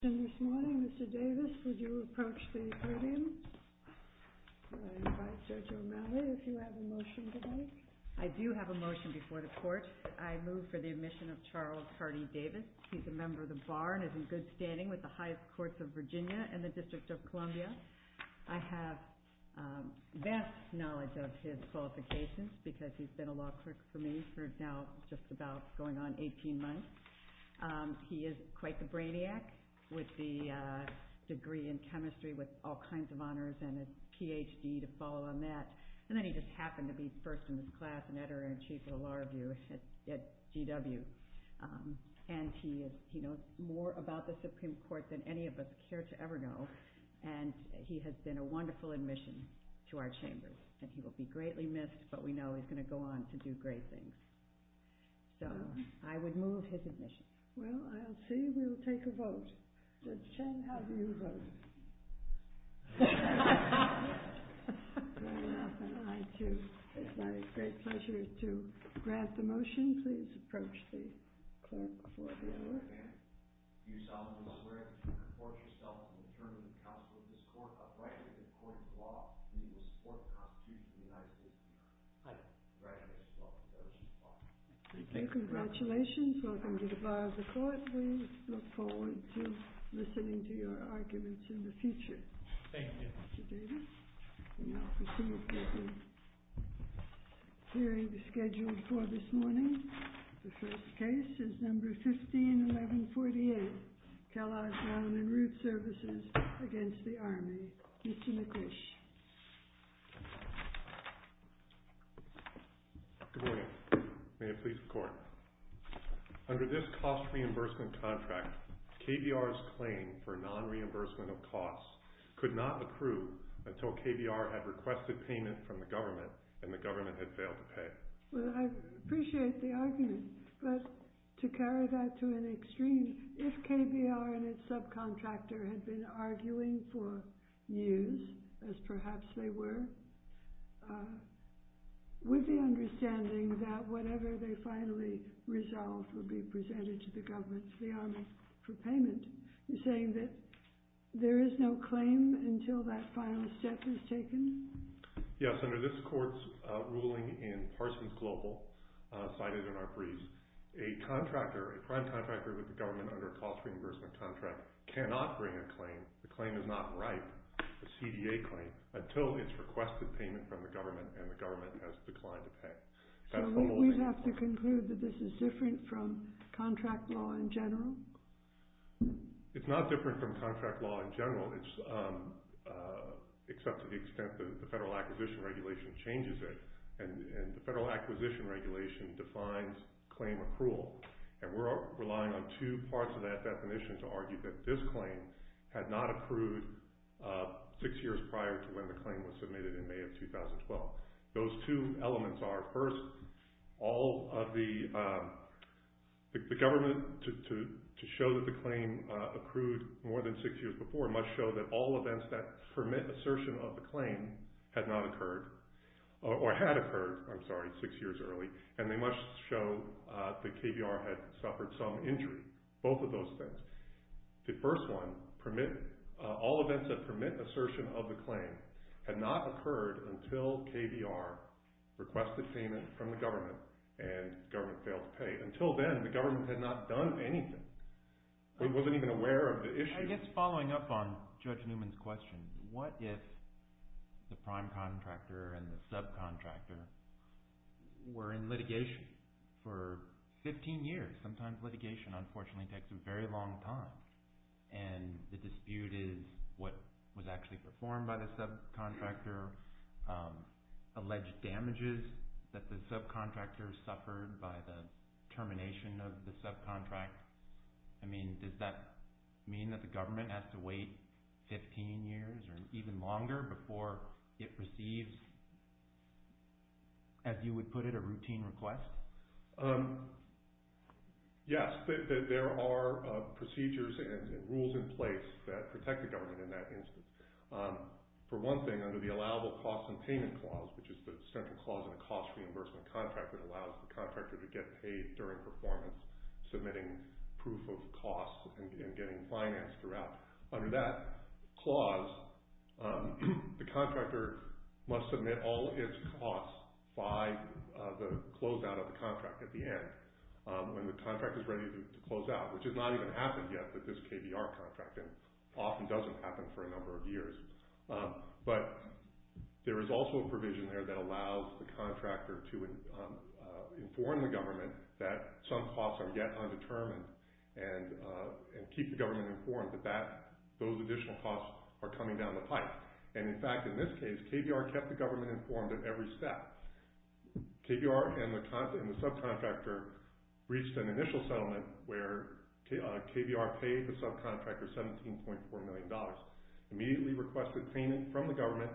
I do have a motion before the court I move for the admission of Charles Hardy Davis he's a member of the bar and is in good standing with the highest courts of Virginia and the District of Columbia I have vast knowledge of his qualifications because he's been a law clerk for me for now just about going on 18 months he is quite the brainiac with the degree in chemistry with all kinds of honors and a PhD to follow on that and then he just happened to be first in the class and editor-in-chief of the Law Review at GW and he is he knows more about the Supreme Court than any of us care to ever know and he has been a wonderful admission to our chambers and he will be greatly missed but we know he's going to go on to do great things so I would move his admission well I'll see we will take a vote. Judge Chen, how do you vote? It is my great pleasure to grant the motion please approach the clerk before the hour. Congratulations, welcome to the bar of the court. We look forward to listening to your arguments in the future. Thank you. The hearing is scheduled for this morning. The first case is number 151148. Kellogg Brown and Ruth Services against the Army. Mr. McQuish. Good morning, may it please the court. Under this cost reimbursement contract KBR's claim for non-reimbursement of costs could not approve until KBR had requested payment from the government and the government had failed to pay. Well I appreciate the argument but to carry that to an extreme if KBR and its subcontractor had been arguing for years as perhaps they were with the understanding that whatever they finally resolved would be presented to the government the Army for payment you're saying that there is no claim until that final step is taken? Yes, under this court's ruling in Parsons Global, cited in our briefs, a contractor, a prime contractor with the government under a cost reimbursement contract cannot bring a claim, the claim is not right, a CDA claim, until it's requested payment from the government and the government has declined to pay. So we have to conclude that this is different from contract law in general? It's not different from contract law in general except to the extent that the Federal Acquisition Regulation changes it and the Federal Acquisition Regulation defines claim approval and we're relying on two parts of that definition to argue that this claim had not approved six years prior to when the claim was submitted in May of 2012. Those two elements are first, all of the, the government to show that the claim accrued more than six years before must show that all events that permit assertion of the claim had not occurred or had occurred, I'm sorry, six years early and they must show that KBR had suffered some injury. Both of those things. The first one, permit, all events that permit assertion of the claim had not occurred until KBR requested payment from the government and government failed to pay. Until then, the government had not done anything. It wasn't even aware of the issue. I guess following up on Judge Newman's question, what if the prime contractor and the subcontractor were in litigation for 15 years? Sometimes litigation unfortunately takes a very long time and the dispute is what was actually performed by the subcontractor, alleged damages that the subcontractor suffered by the termination of the subcontract. I mean, does that mean that the government has to wait 15 years or even longer before it receives, as you would put it, a routine request? Yes, there are procedures and rules in place that protect the government in that instance. For one thing, under the allowable costs and payment clause, which is the central clause in a cost reimbursement contract that allows the contractor to get paid during performance, submitting proof of costs and getting finance throughout. Under that clause, the contractor must submit all its costs by the closeout of the contract at the end. When the contract is ready to close out, which has not even happened yet with this KBR contract and often doesn't happen for a number of years. But there is also a provision there that allows the contractor to inform the government that some costs are yet undetermined and keep the government informed that those additional costs are coming down the pipe. And in fact, in this case, KBR kept the government informed at every step. KBR and the subcontractor reached an initial settlement where KBR paid the subcontractor $17.4 million, immediately requested payment from the government,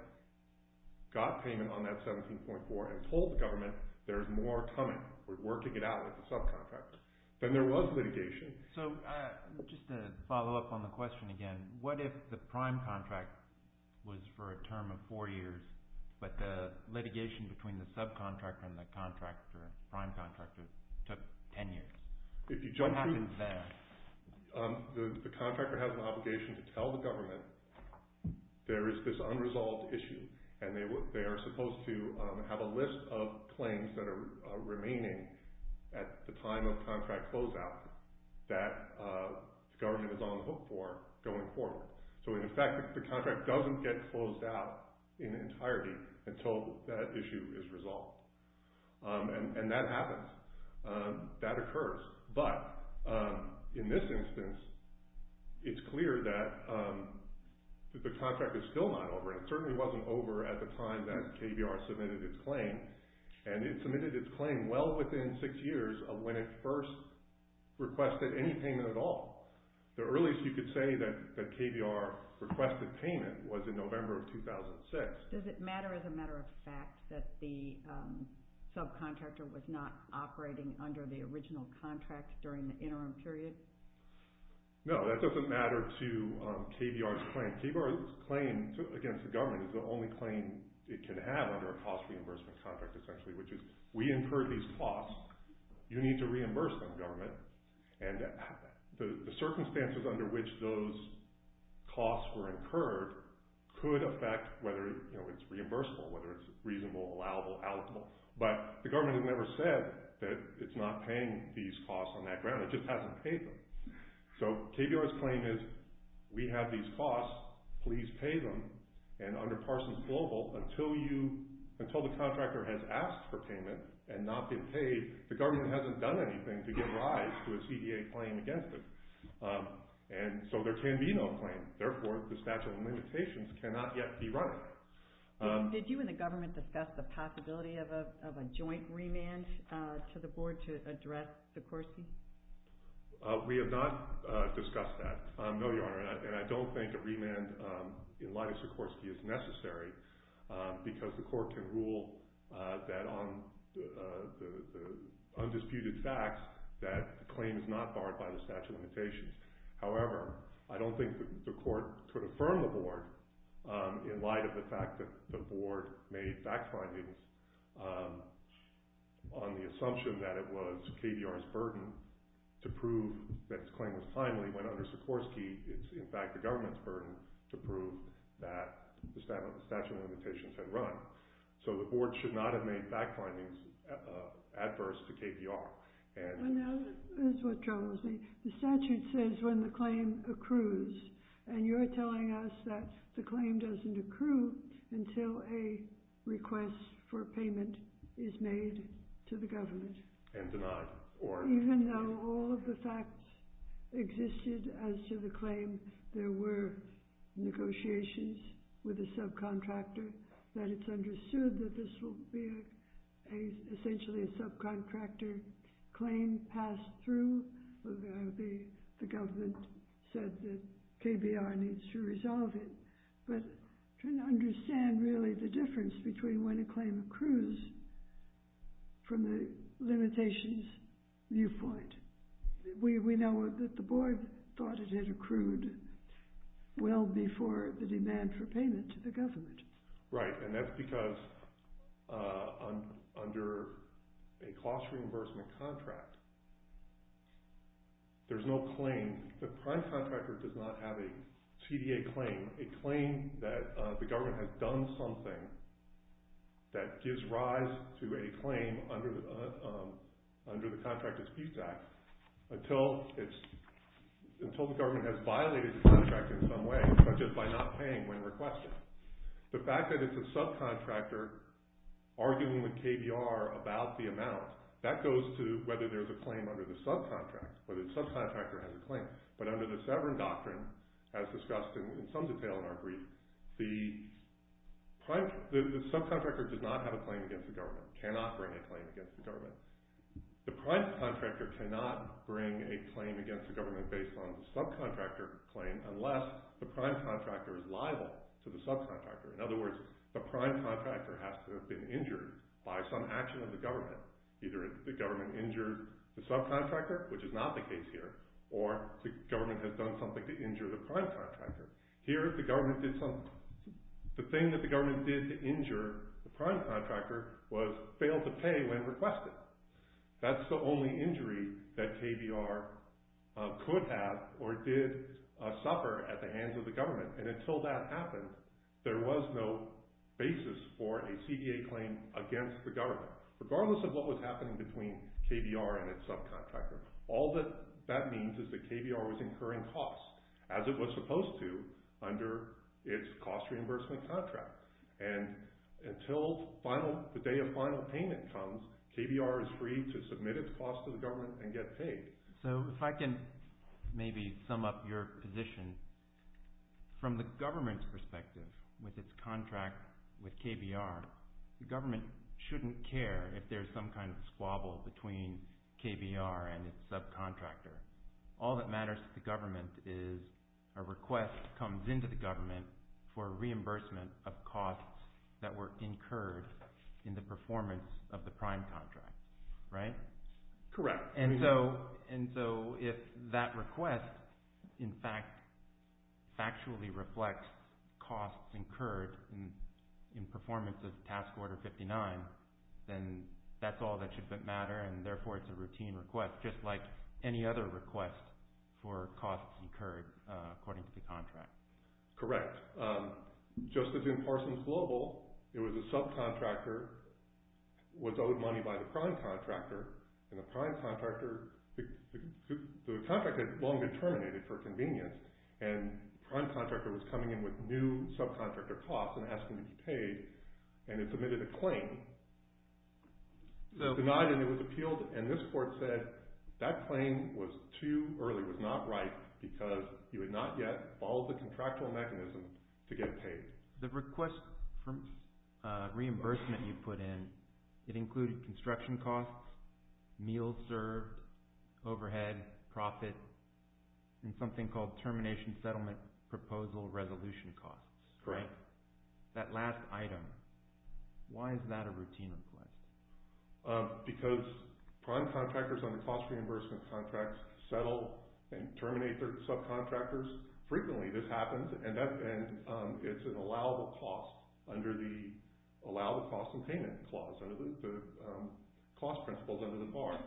got payment on that $17.4 million and told the government there's more coming. We're working it out with the subcontractor. Then there was litigation. So just to follow up on the question again, what if the prime contract was for a term of four years, but the litigation between the subcontractor and the contractor, prime contractor, took 10 years? If you jump through, the contractor has an obligation to tell the government there is this unresolved issue and they are supposed to have a list of claims that are remaining at the time of contract closeout that the government is on hold for going forward. So in effect, the contract doesn't get closed out in entirety until that issue is resolved. And that happens. That occurs. But in this instance, it's clear that the contract is still not over. It certainly wasn't over at the time that KBR submitted its claim. And it submitted its claim well within six years of when it first requested any payment at all. The earliest you could say that KBR requested payment was in November of 2006. Does it matter as a matter of fact that the subcontractor was not operating under the original contract during the interim period? No, that doesn't matter to KBR's claim. KBR's claim against the government is the only claim it can have under a cost reimbursement contract essentially, which is we incurred these costs. You need to reimburse them, government. And the circumstances under which those costs were incurred could affect whether it's reimbursable, whether it's reasonable, allowable, allocable. But the government has never said that it's not paying these costs on that ground. It just hasn't paid them. So KBR's claim is we have these costs. Please pay them. And under Parsons Global, until the contractor has asked for payment and not been paid, the government hasn't done anything to give rise to a CDA claim against it. And so there can be no claim. Therefore, the statute of limitations cannot yet be run. Did you and the government discuss the possibility of a joint remand to the board to address Sikorsky? We have not discussed that, no, Your Honor. And I don't think a remand in light of Sikorsky is necessary because the court can rule that on the undisputed facts that the claim is not barred by the statute of limitations. However, I don't think the court could affirm the board in light of the fact that the board made fact findings on the assumption that it was KBR's burden to prove that the claim was timely when under Sikorsky it's in fact the government's burden to prove that the statute of limitations had run. So the board should not have made fact findings adverse to KBR. That's what troubles me. The statute says when the claim accrues, and you're telling us that the claim doesn't accrue until a request for payment is made to the government. And denied. Even though all of the facts existed as to the claim, there were negotiations with the subcontractor, that it's understood that this will be essentially a subcontractor claim passed through. The government said that KBR needs to resolve it. But trying to understand really the difference between when a claim accrues from the limitations viewpoint. We know that the board thought it had accrued well before the demand for payment to the government. Right, and that's because under a cost reimbursement contract, there's no claim. The prime contractor does not have a CDA claim, a claim that the government has done something that gives rise to a claim under the Contract Disputes Act until the government has violated the contract in some way, such as by not paying when requested. The fact that it's a subcontractor arguing with KBR about the amount, that goes to whether there's a claim under the subcontract. Whether the subcontractor has a claim. But under the Severn Doctrine, as discussed in some detail in our brief, the subcontractor does not have a claim against the government, cannot bring a claim against the government. The prime contractor cannot bring a claim against the government based on the subcontractor claim unless the prime contractor is liable to the subcontractor. In other words, the prime contractor has to have been injured by some action of the government. Either the government injured the subcontractor, which is not the case here, or the government has done something to injure the prime contractor. Here, the thing that the government did to injure the prime contractor was fail to pay when requested. That's the only injury that KBR could have or did suffer at the hands of the government. And until that happened, there was no basis for a CDA claim against the government. Regardless of what was happening between KBR and its subcontractor, all that that means is that KBR was incurring costs as it was supposed to under its cost reimbursement contract. And until the day of final payment comes, KBR is free to submit its costs to the government and get paid. So if I can maybe sum up your position, from the government's perspective with its contract with KBR, the government shouldn't care if there's some kind of squabble between KBR and its subcontractor. All that matters to the government is a request comes into the government for reimbursement of costs that were incurred in the performance of the prime contract, right? Correct. And so if that request, in fact, factually reflects costs incurred in performance of task order 59, then that's all that should matter and therefore it's a routine request, just like any other request for costs incurred according to the contract. Correct. Just as in Parsons Global, it was a subcontractor was owed money by the prime contractor, and the prime contractor, the contract had long been terminated for convenience, and the prime contractor was coming in with new subcontractor costs and asking to be paid, and it submitted a claim, denied and it was appealed, and this court said that claim was too early, was not right, because you had not yet followed the contractual mechanism to get paid. The request for reimbursement you put in, it included construction costs, meals served, overhead, profit, and something called termination settlement proposal resolution costs, right? Correct. That last item, why is that a routine request? Because prime contractors on the cost reimbursement contracts settle and terminate their subcontractors. Frequently this happens and it's an allowable cost under the allowable cost and payment clause, under the cost principles under the FAR.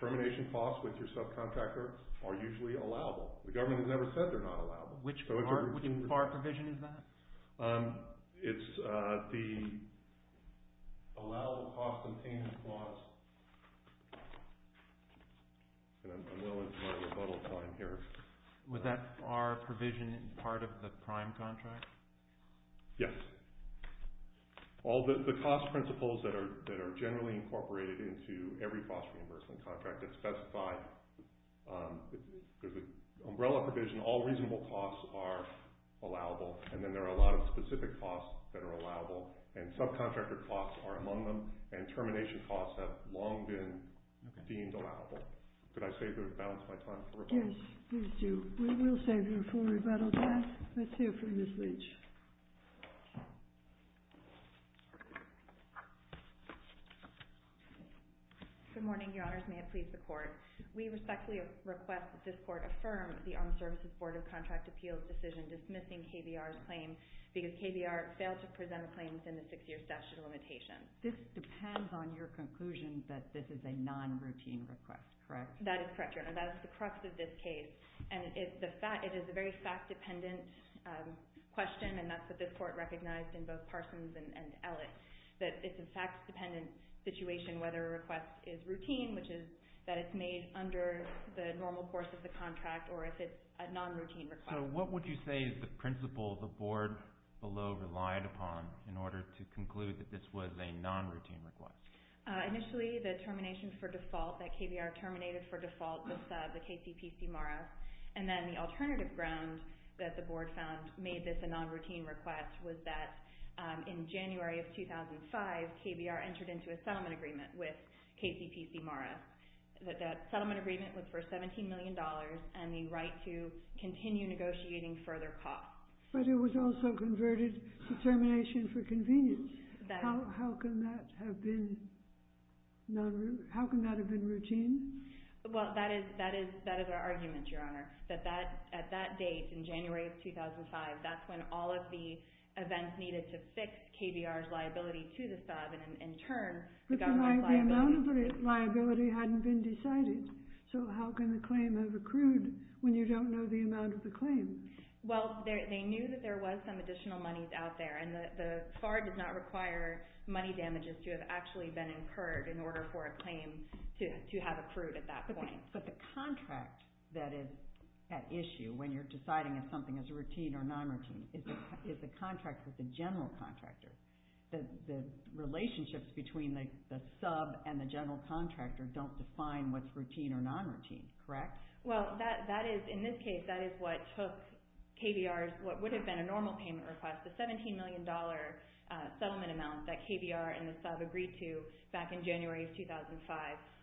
Termination costs with your subcontractor are usually allowable. The government has never said they're not allowable. Which FAR provision is that? It's the allowable cost and payment clause. And I'm willing to run a rebuttal time here. Was that FAR provision part of the prime contract? Yes. All the cost principles that are generally incorporated into every cost reimbursement contract that's specified, there's an umbrella provision, all reasonable costs are allowable, and then there are a lot of specific costs that are allowable, and subcontractor costs are among them, and termination costs have long been deemed allowable. Did I save the balance of my time for rebuttal? Yes, you do. We will save you a full rebuttal time. Let's hear from Ms. Leach. Good morning, Your Honors. May it please the Court. We respectfully request that this Court affirm the Armed Services Board of Contract Appeals' decision dismissing KBR's claim because KBR failed to present a claim within the six-year statute of limitations. This depends on your conclusion that this is a non-routine request, correct? That is correct, Your Honor. That is the crux of this case, and it is a very fact-dependent question, and that's what this Court recognized in both Parsons and Ellis, that it's a fact-dependent situation whether a request is routine, which is that it's made under the normal course of the contract, or if it's a non-routine request. So what would you say is the principle the Board below relied upon in order to conclude that this was a non-routine request? Initially, the termination for default, that KBR terminated for default the KCPC MARA, and then the alternative ground that the Board found made this a non-routine request was that in January of 2005, KBR entered into a settlement agreement with KCPC MARA. That settlement agreement was for $17 million and the right to continue negotiating further costs. But it was also converted to termination for convenience. How can that have been non-routine? How can that have been routine? Well, that is our argument, Your Honor, that at that date, in January of 2005, that's when all of the events needed to fix KBR's liability to the sub But the amount of liability hadn't been decided, so how can the claim have accrued when you don't know the amount of the claim? Well, they knew that there was some additional money out there, and the FAR does not require money damages to have actually been incurred in order for a claim to have accrued at that point. But the contract that is at issue when you're deciding if something is routine or non-routine is the contract with the general contractor. The relationships between the sub and the general contractor don't define what's routine or non-routine, correct? Well, that is, in this case, that is what took KBR's, what would have been a normal payment request, the $17 million settlement amount that KBR and the sub agreed to back in January of 2005,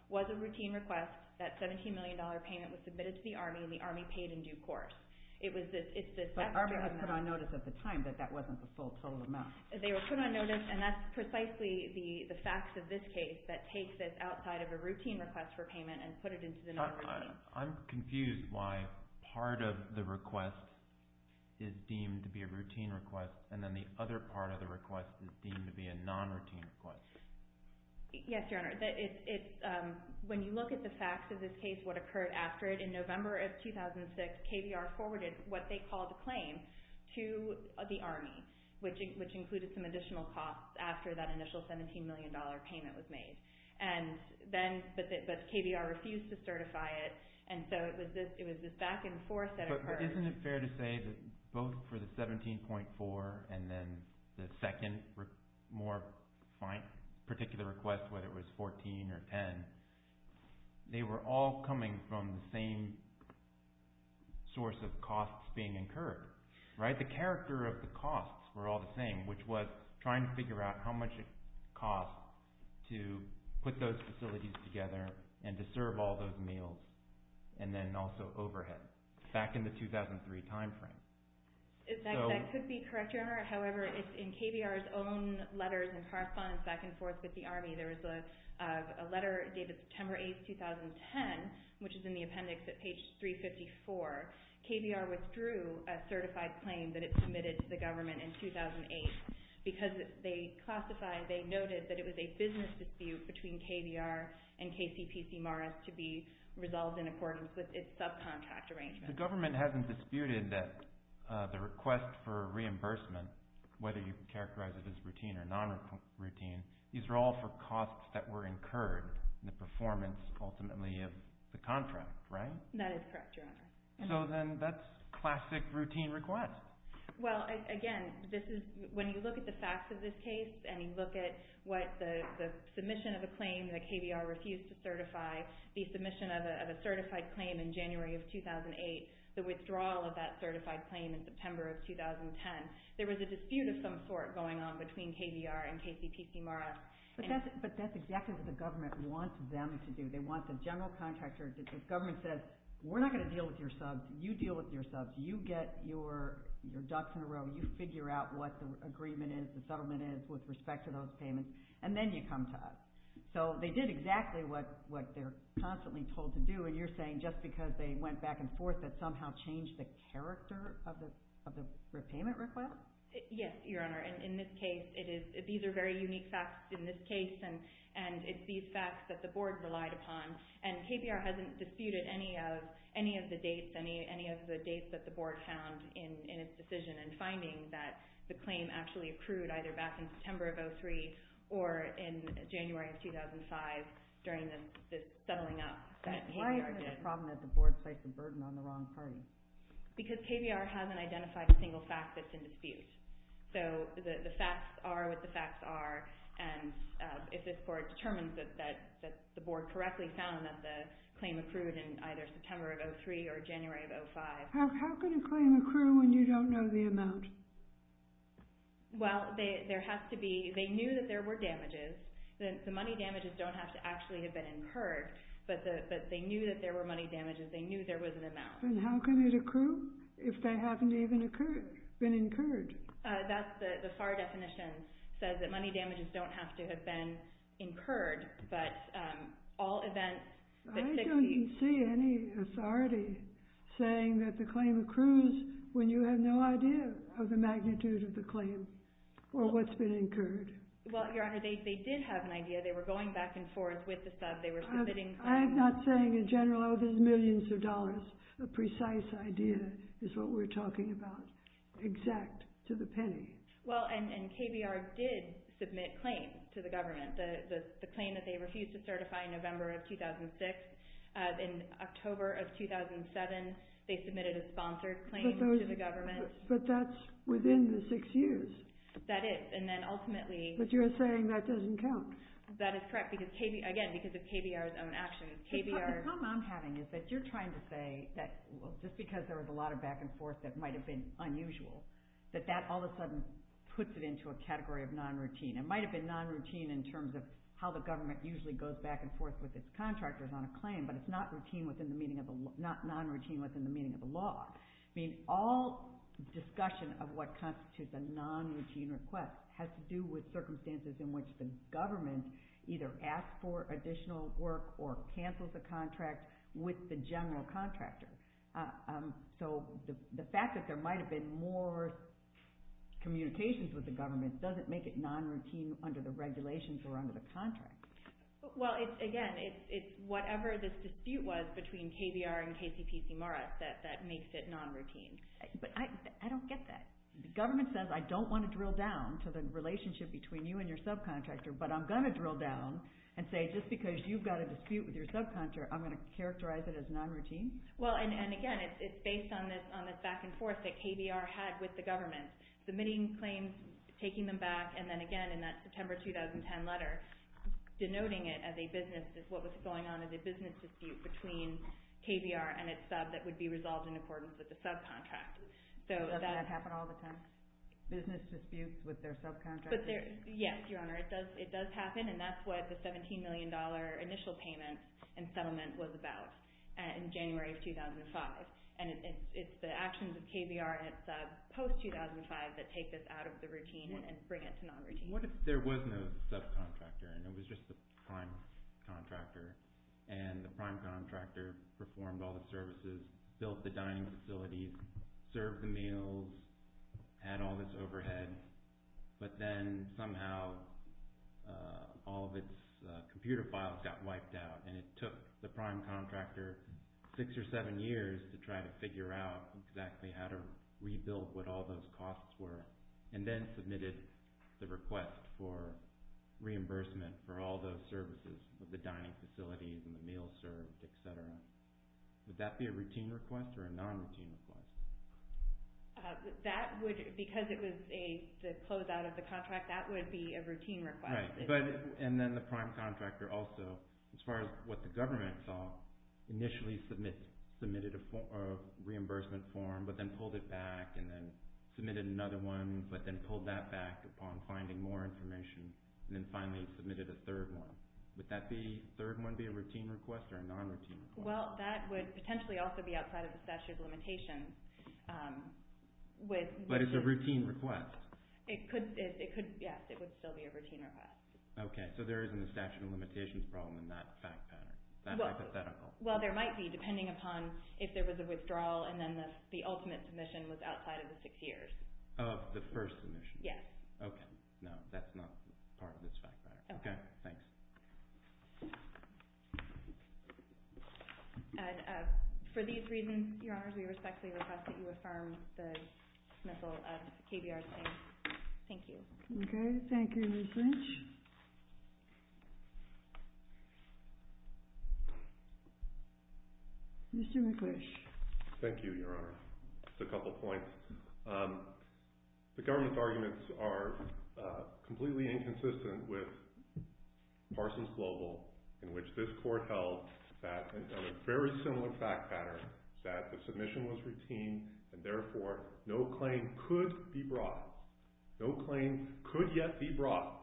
was a routine request. That $17 million payment was submitted to the Army, and the Army paid in due course. But Army had put on notice at the time that that wasn't the full total amount. They were put on notice, and that's precisely the facts of this case that take this outside of a routine request for payment and put it into the non-routine. I'm confused why part of the request is deemed to be a routine request and then the other part of the request is deemed to be a non-routine request. Yes, Your Honor. When you look at the facts of this case, what occurred after it, in November of 2006 KBR forwarded what they called a claim to the Army, which included some additional costs after that initial $17 million payment was made. But KBR refused to certify it, and so it was this back and forth that occurred. But isn't it fair to say that both for the 17.4 and then the second more particular request, whether it was 14 or 10, they were all coming from the same source of costs being incurred, right? But the character of the costs were all the same, which was trying to figure out how much it costs to put those facilities together and to serve all those meals and then also overhead back in the 2003 timeframe. That could be correct, Your Honor. However, it's in KBR's own letters and correspondence back and forth with the Army. There was a letter dated September 8, 2010, which is in the appendix at page 354. KBR withdrew a certified claim that it submitted to the government in 2008 because they classified, they noted that it was a business dispute between KBR and KCPC-MARS to be resolved in accordance with its subcontract arrangement. The government hasn't disputed that the request for reimbursement, whether you characterize it as routine or non-routine, these are all for costs that were incurred in the performance ultimately of the contract, right? That is correct, Your Honor. So then that's classic routine request. Well, again, when you look at the facts of this case and you look at what the submission of the claim that KBR refused to certify, the submission of a certified claim in January of 2008, the withdrawal of that certified claim in September of 2010, there was a dispute of some sort going on between KBR and KCPC-MARS. But that's exactly what the government wants them to do. They want the general contractor. The government says, We're not going to deal with your subs. You deal with your subs. You get your ducks in a row. You figure out what the agreement is, the settlement is with respect to those payments, and then you come to us. So they did exactly what they're constantly told to do, and you're saying just because they went back and forth that somehow changed the character of the repayment request? Yes, Your Honor. In this case, these are very unique facts in this case, and it's these facts that the board relied upon, and KBR hasn't disputed any of the dates that the board found in its decision in finding that the claim actually accrued either back in September of 2003 or in January of 2005 during the settling up that KBR did. Why is it a problem that the board placed a burden on the wrong party? Because KBR hasn't identified a single fact that's in dispute. So the facts are what the facts are, and if this court determines that the board correctly found that the claim accrued in either September of 2003 or January of 2005. How can a claim accrue when you don't know the amount? Well, there has to be—they knew that there were damages. The money damages don't have to actually have been incurred, but they knew that there were money damages. They knew there was an amount. Then how can it accrue if they haven't even been incurred? The FAR definition says that money damages don't have to have been incurred, but all events— I don't see any authority saying that the claim accrues when you have no idea of the magnitude of the claim or what's been incurred. Well, Your Honor, they did have an idea. They were going back and forth with the sub. They were submitting— I'm not saying in general, oh, there's millions of dollars. A precise idea is what we're talking about. Exact to the penny. Well, and KBR did submit claims to the government, the claim that they refused to certify in November of 2006. In October of 2007, they submitted a sponsored claim to the government. But that's within the six years. That is, and then ultimately— But you're saying that doesn't count. That is correct, again, because of KBR's own actions. The problem I'm having is that you're trying to say that just because there was a lot of back and forth that might have been unusual, that that all of a sudden puts it into a category of non-routine. It might have been non-routine in terms of how the government usually goes back and forth with its contractors on a claim, but it's not non-routine within the meaning of the law. I mean, all discussion of what constitutes a non-routine request has to do with circumstances in which the government either asks for additional work or cancels a contract with the general contractor. So the fact that there might have been more communications with the government doesn't make it non-routine under the regulations or under the contract. Well, again, it's whatever this dispute was between KBR and KCPC Morris that makes it non-routine. But I don't get that. The government says, I don't want to drill down to the relationship between you and your subcontractor, but I'm going to drill down and say, just because you've got a dispute with your subcontractor, I'm going to characterize it as non-routine? Well, and again, it's based on this back and forth that KBR had with the government. Submitting claims, taking them back, and then again in that September 2010 letter, denoting it as a business dispute between KBR and its sub that would be resolved in accordance with the subcontract. Doesn't that happen all the time? Business disputes with their subcontractors? Yes, Your Honor, it does happen, and that's what the $17 million initial payment and settlement was about in January of 2005. And it's the actions of KBR and its sub post-2005 that take this out of the routine and bring it to non-routine. What if there was no subcontractor and it was just the prime contractor, and the prime contractor performed all the services, built the dining facilities, served the meals, had all this overhead, but then somehow all of its computer files got wiped out and it took the prime contractor 6 or 7 years to try to figure out exactly how to rebuild what all those costs were and then submitted the request for reimbursement for all those services with the dining facilities and the meals served, et cetera. Would that be a routine request or a non-routine request? Because it was a closeout of the contract, that would be a routine request. Right, and then the prime contractor also, as far as what the government saw, initially submitted a reimbursement form but then pulled it back and then submitted another one but then pulled that back upon finding more information and then finally submitted a third one. Would that third one be a routine request or a non-routine request? Well, that would potentially also be outside of the statute of limitations. But it's a routine request? Yes, it would still be a routine request. Okay, so there isn't a statute of limitations problem in that fact pattern, that hypothetical? Well, there might be depending upon if there was a withdrawal and then the ultimate submission was outside of the 6 years. Of the first submission? Yes. Okay, no, that's not part of this fact pattern. Okay. Thanks. For these reasons, Your Honors, we respectfully request that you affirm the submissal of KBR's name. Thank you. Okay, thank you, Ms. Lynch. Mr. McClish. Thank you, Your Honor. Just a couple points. The government's arguments are completely inconsistent with Parsons Global in which this court held that in a very similar fact pattern that the submission was routine and, therefore, no claim could be brought. No claim could yet be brought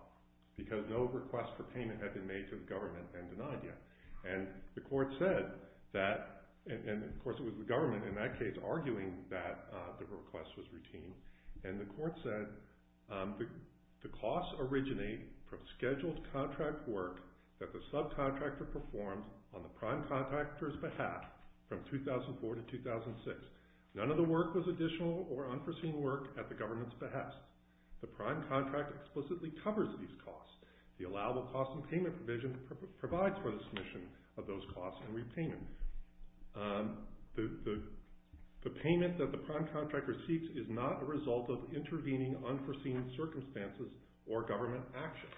because no request for payment had been made to the government and denied yet. And the court said that, and, of course, it was the government in that case arguing that the request was routine, and the court said the costs originate from scheduled contract work that the subcontractor performs on the prime contractor's behalf from 2004 to 2006. None of the work was additional or unforeseen work at the government's behest. The prime contract explicitly covers these costs. The allowable cost and payment provision provides for the submission of those costs and repayment. The payment that the prime contractor seeks is not a result of intervening unforeseen circumstances or government action.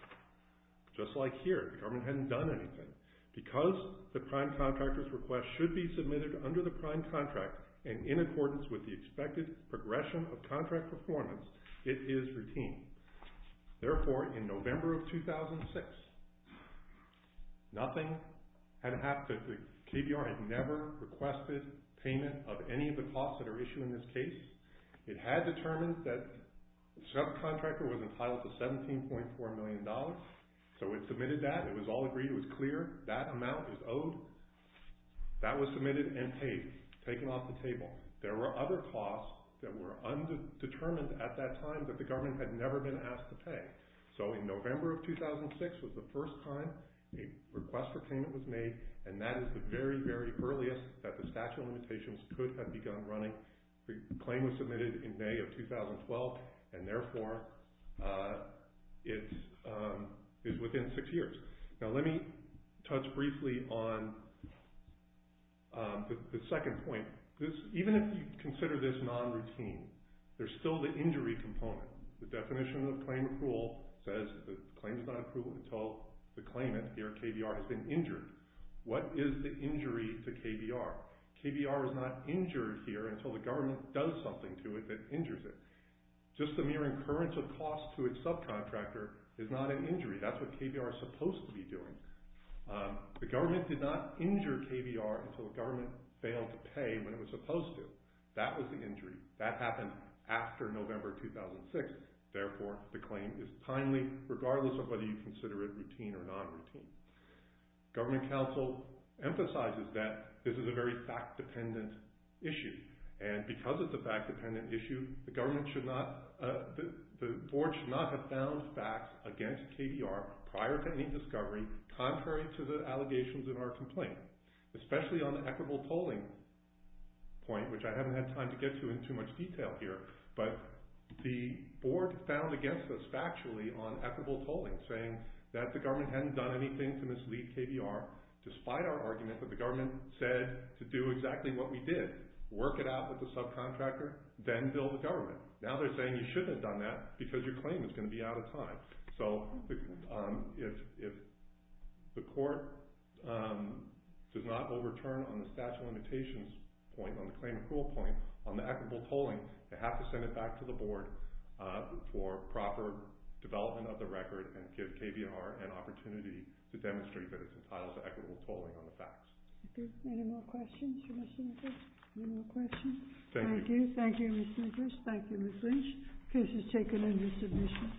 Just like here, the government hadn't done anything. Because the prime contractor's request should be submitted under the prime contract and in accordance with the expected progression of contract performance, it is routine. Therefore, in November of 2006, nothing had happened. The KBR had never requested payment of any of the costs that are issued in this case. It had determined that the subcontractor was entitled to $17.4 million. So it submitted that. It was all agreed. It was clear. That amount is owed. That was submitted and paid, taken off the table. There were other costs that were undetermined at that time that the government had never been asked to pay. So in November of 2006 was the first time a request for payment was made, and that is the very, very earliest that the statute of limitations could have begun running The claim was submitted in May of 2012, and therefore it is within six years. Now let me touch briefly on the second point. Even if you consider this non-routine, there's still the injury component. The definition of claim approval says the claim is not approved until the claimant, here KBR, has been injured. What is the injury to KBR? KBR is not injured here until the government does something to it that injures it. Just the mere incurrence of costs to its subcontractor is not an injury. That's what KBR is supposed to be doing. The government did not injure KBR until the government failed to pay when it was supposed to. That was the injury. That happened after November 2006. Therefore, the claim is timely, regardless of whether you consider it routine or non-routine. Government counsel emphasizes that this is a very fact-dependent issue, and because it's a fact-dependent issue, the board should not have found facts against KBR prior to any discovery, contrary to the allegations in our complaint, especially on the equitable tolling point, which I haven't had time to get to in too much detail here, but the board found against us factually on equitable tolling, saying that the government hadn't done anything to mislead KBR, despite our argument that the government said to do exactly what we did, work it out with the subcontractor, then bill the government. Now they're saying you shouldn't have done that because your claim is going to be out of time. So if the court does not overturn on the statute of limitations point, on the claim accrual point, on the equitable tolling, they have to send it back to the board for proper development of the record and give KBR an opportunity to demonstrate that it's entitled to equitable tolling on the facts. Any more questions? Thank you. Thank you, Mr. English. Thank you, Ms. Lynch. The case is taken into submission.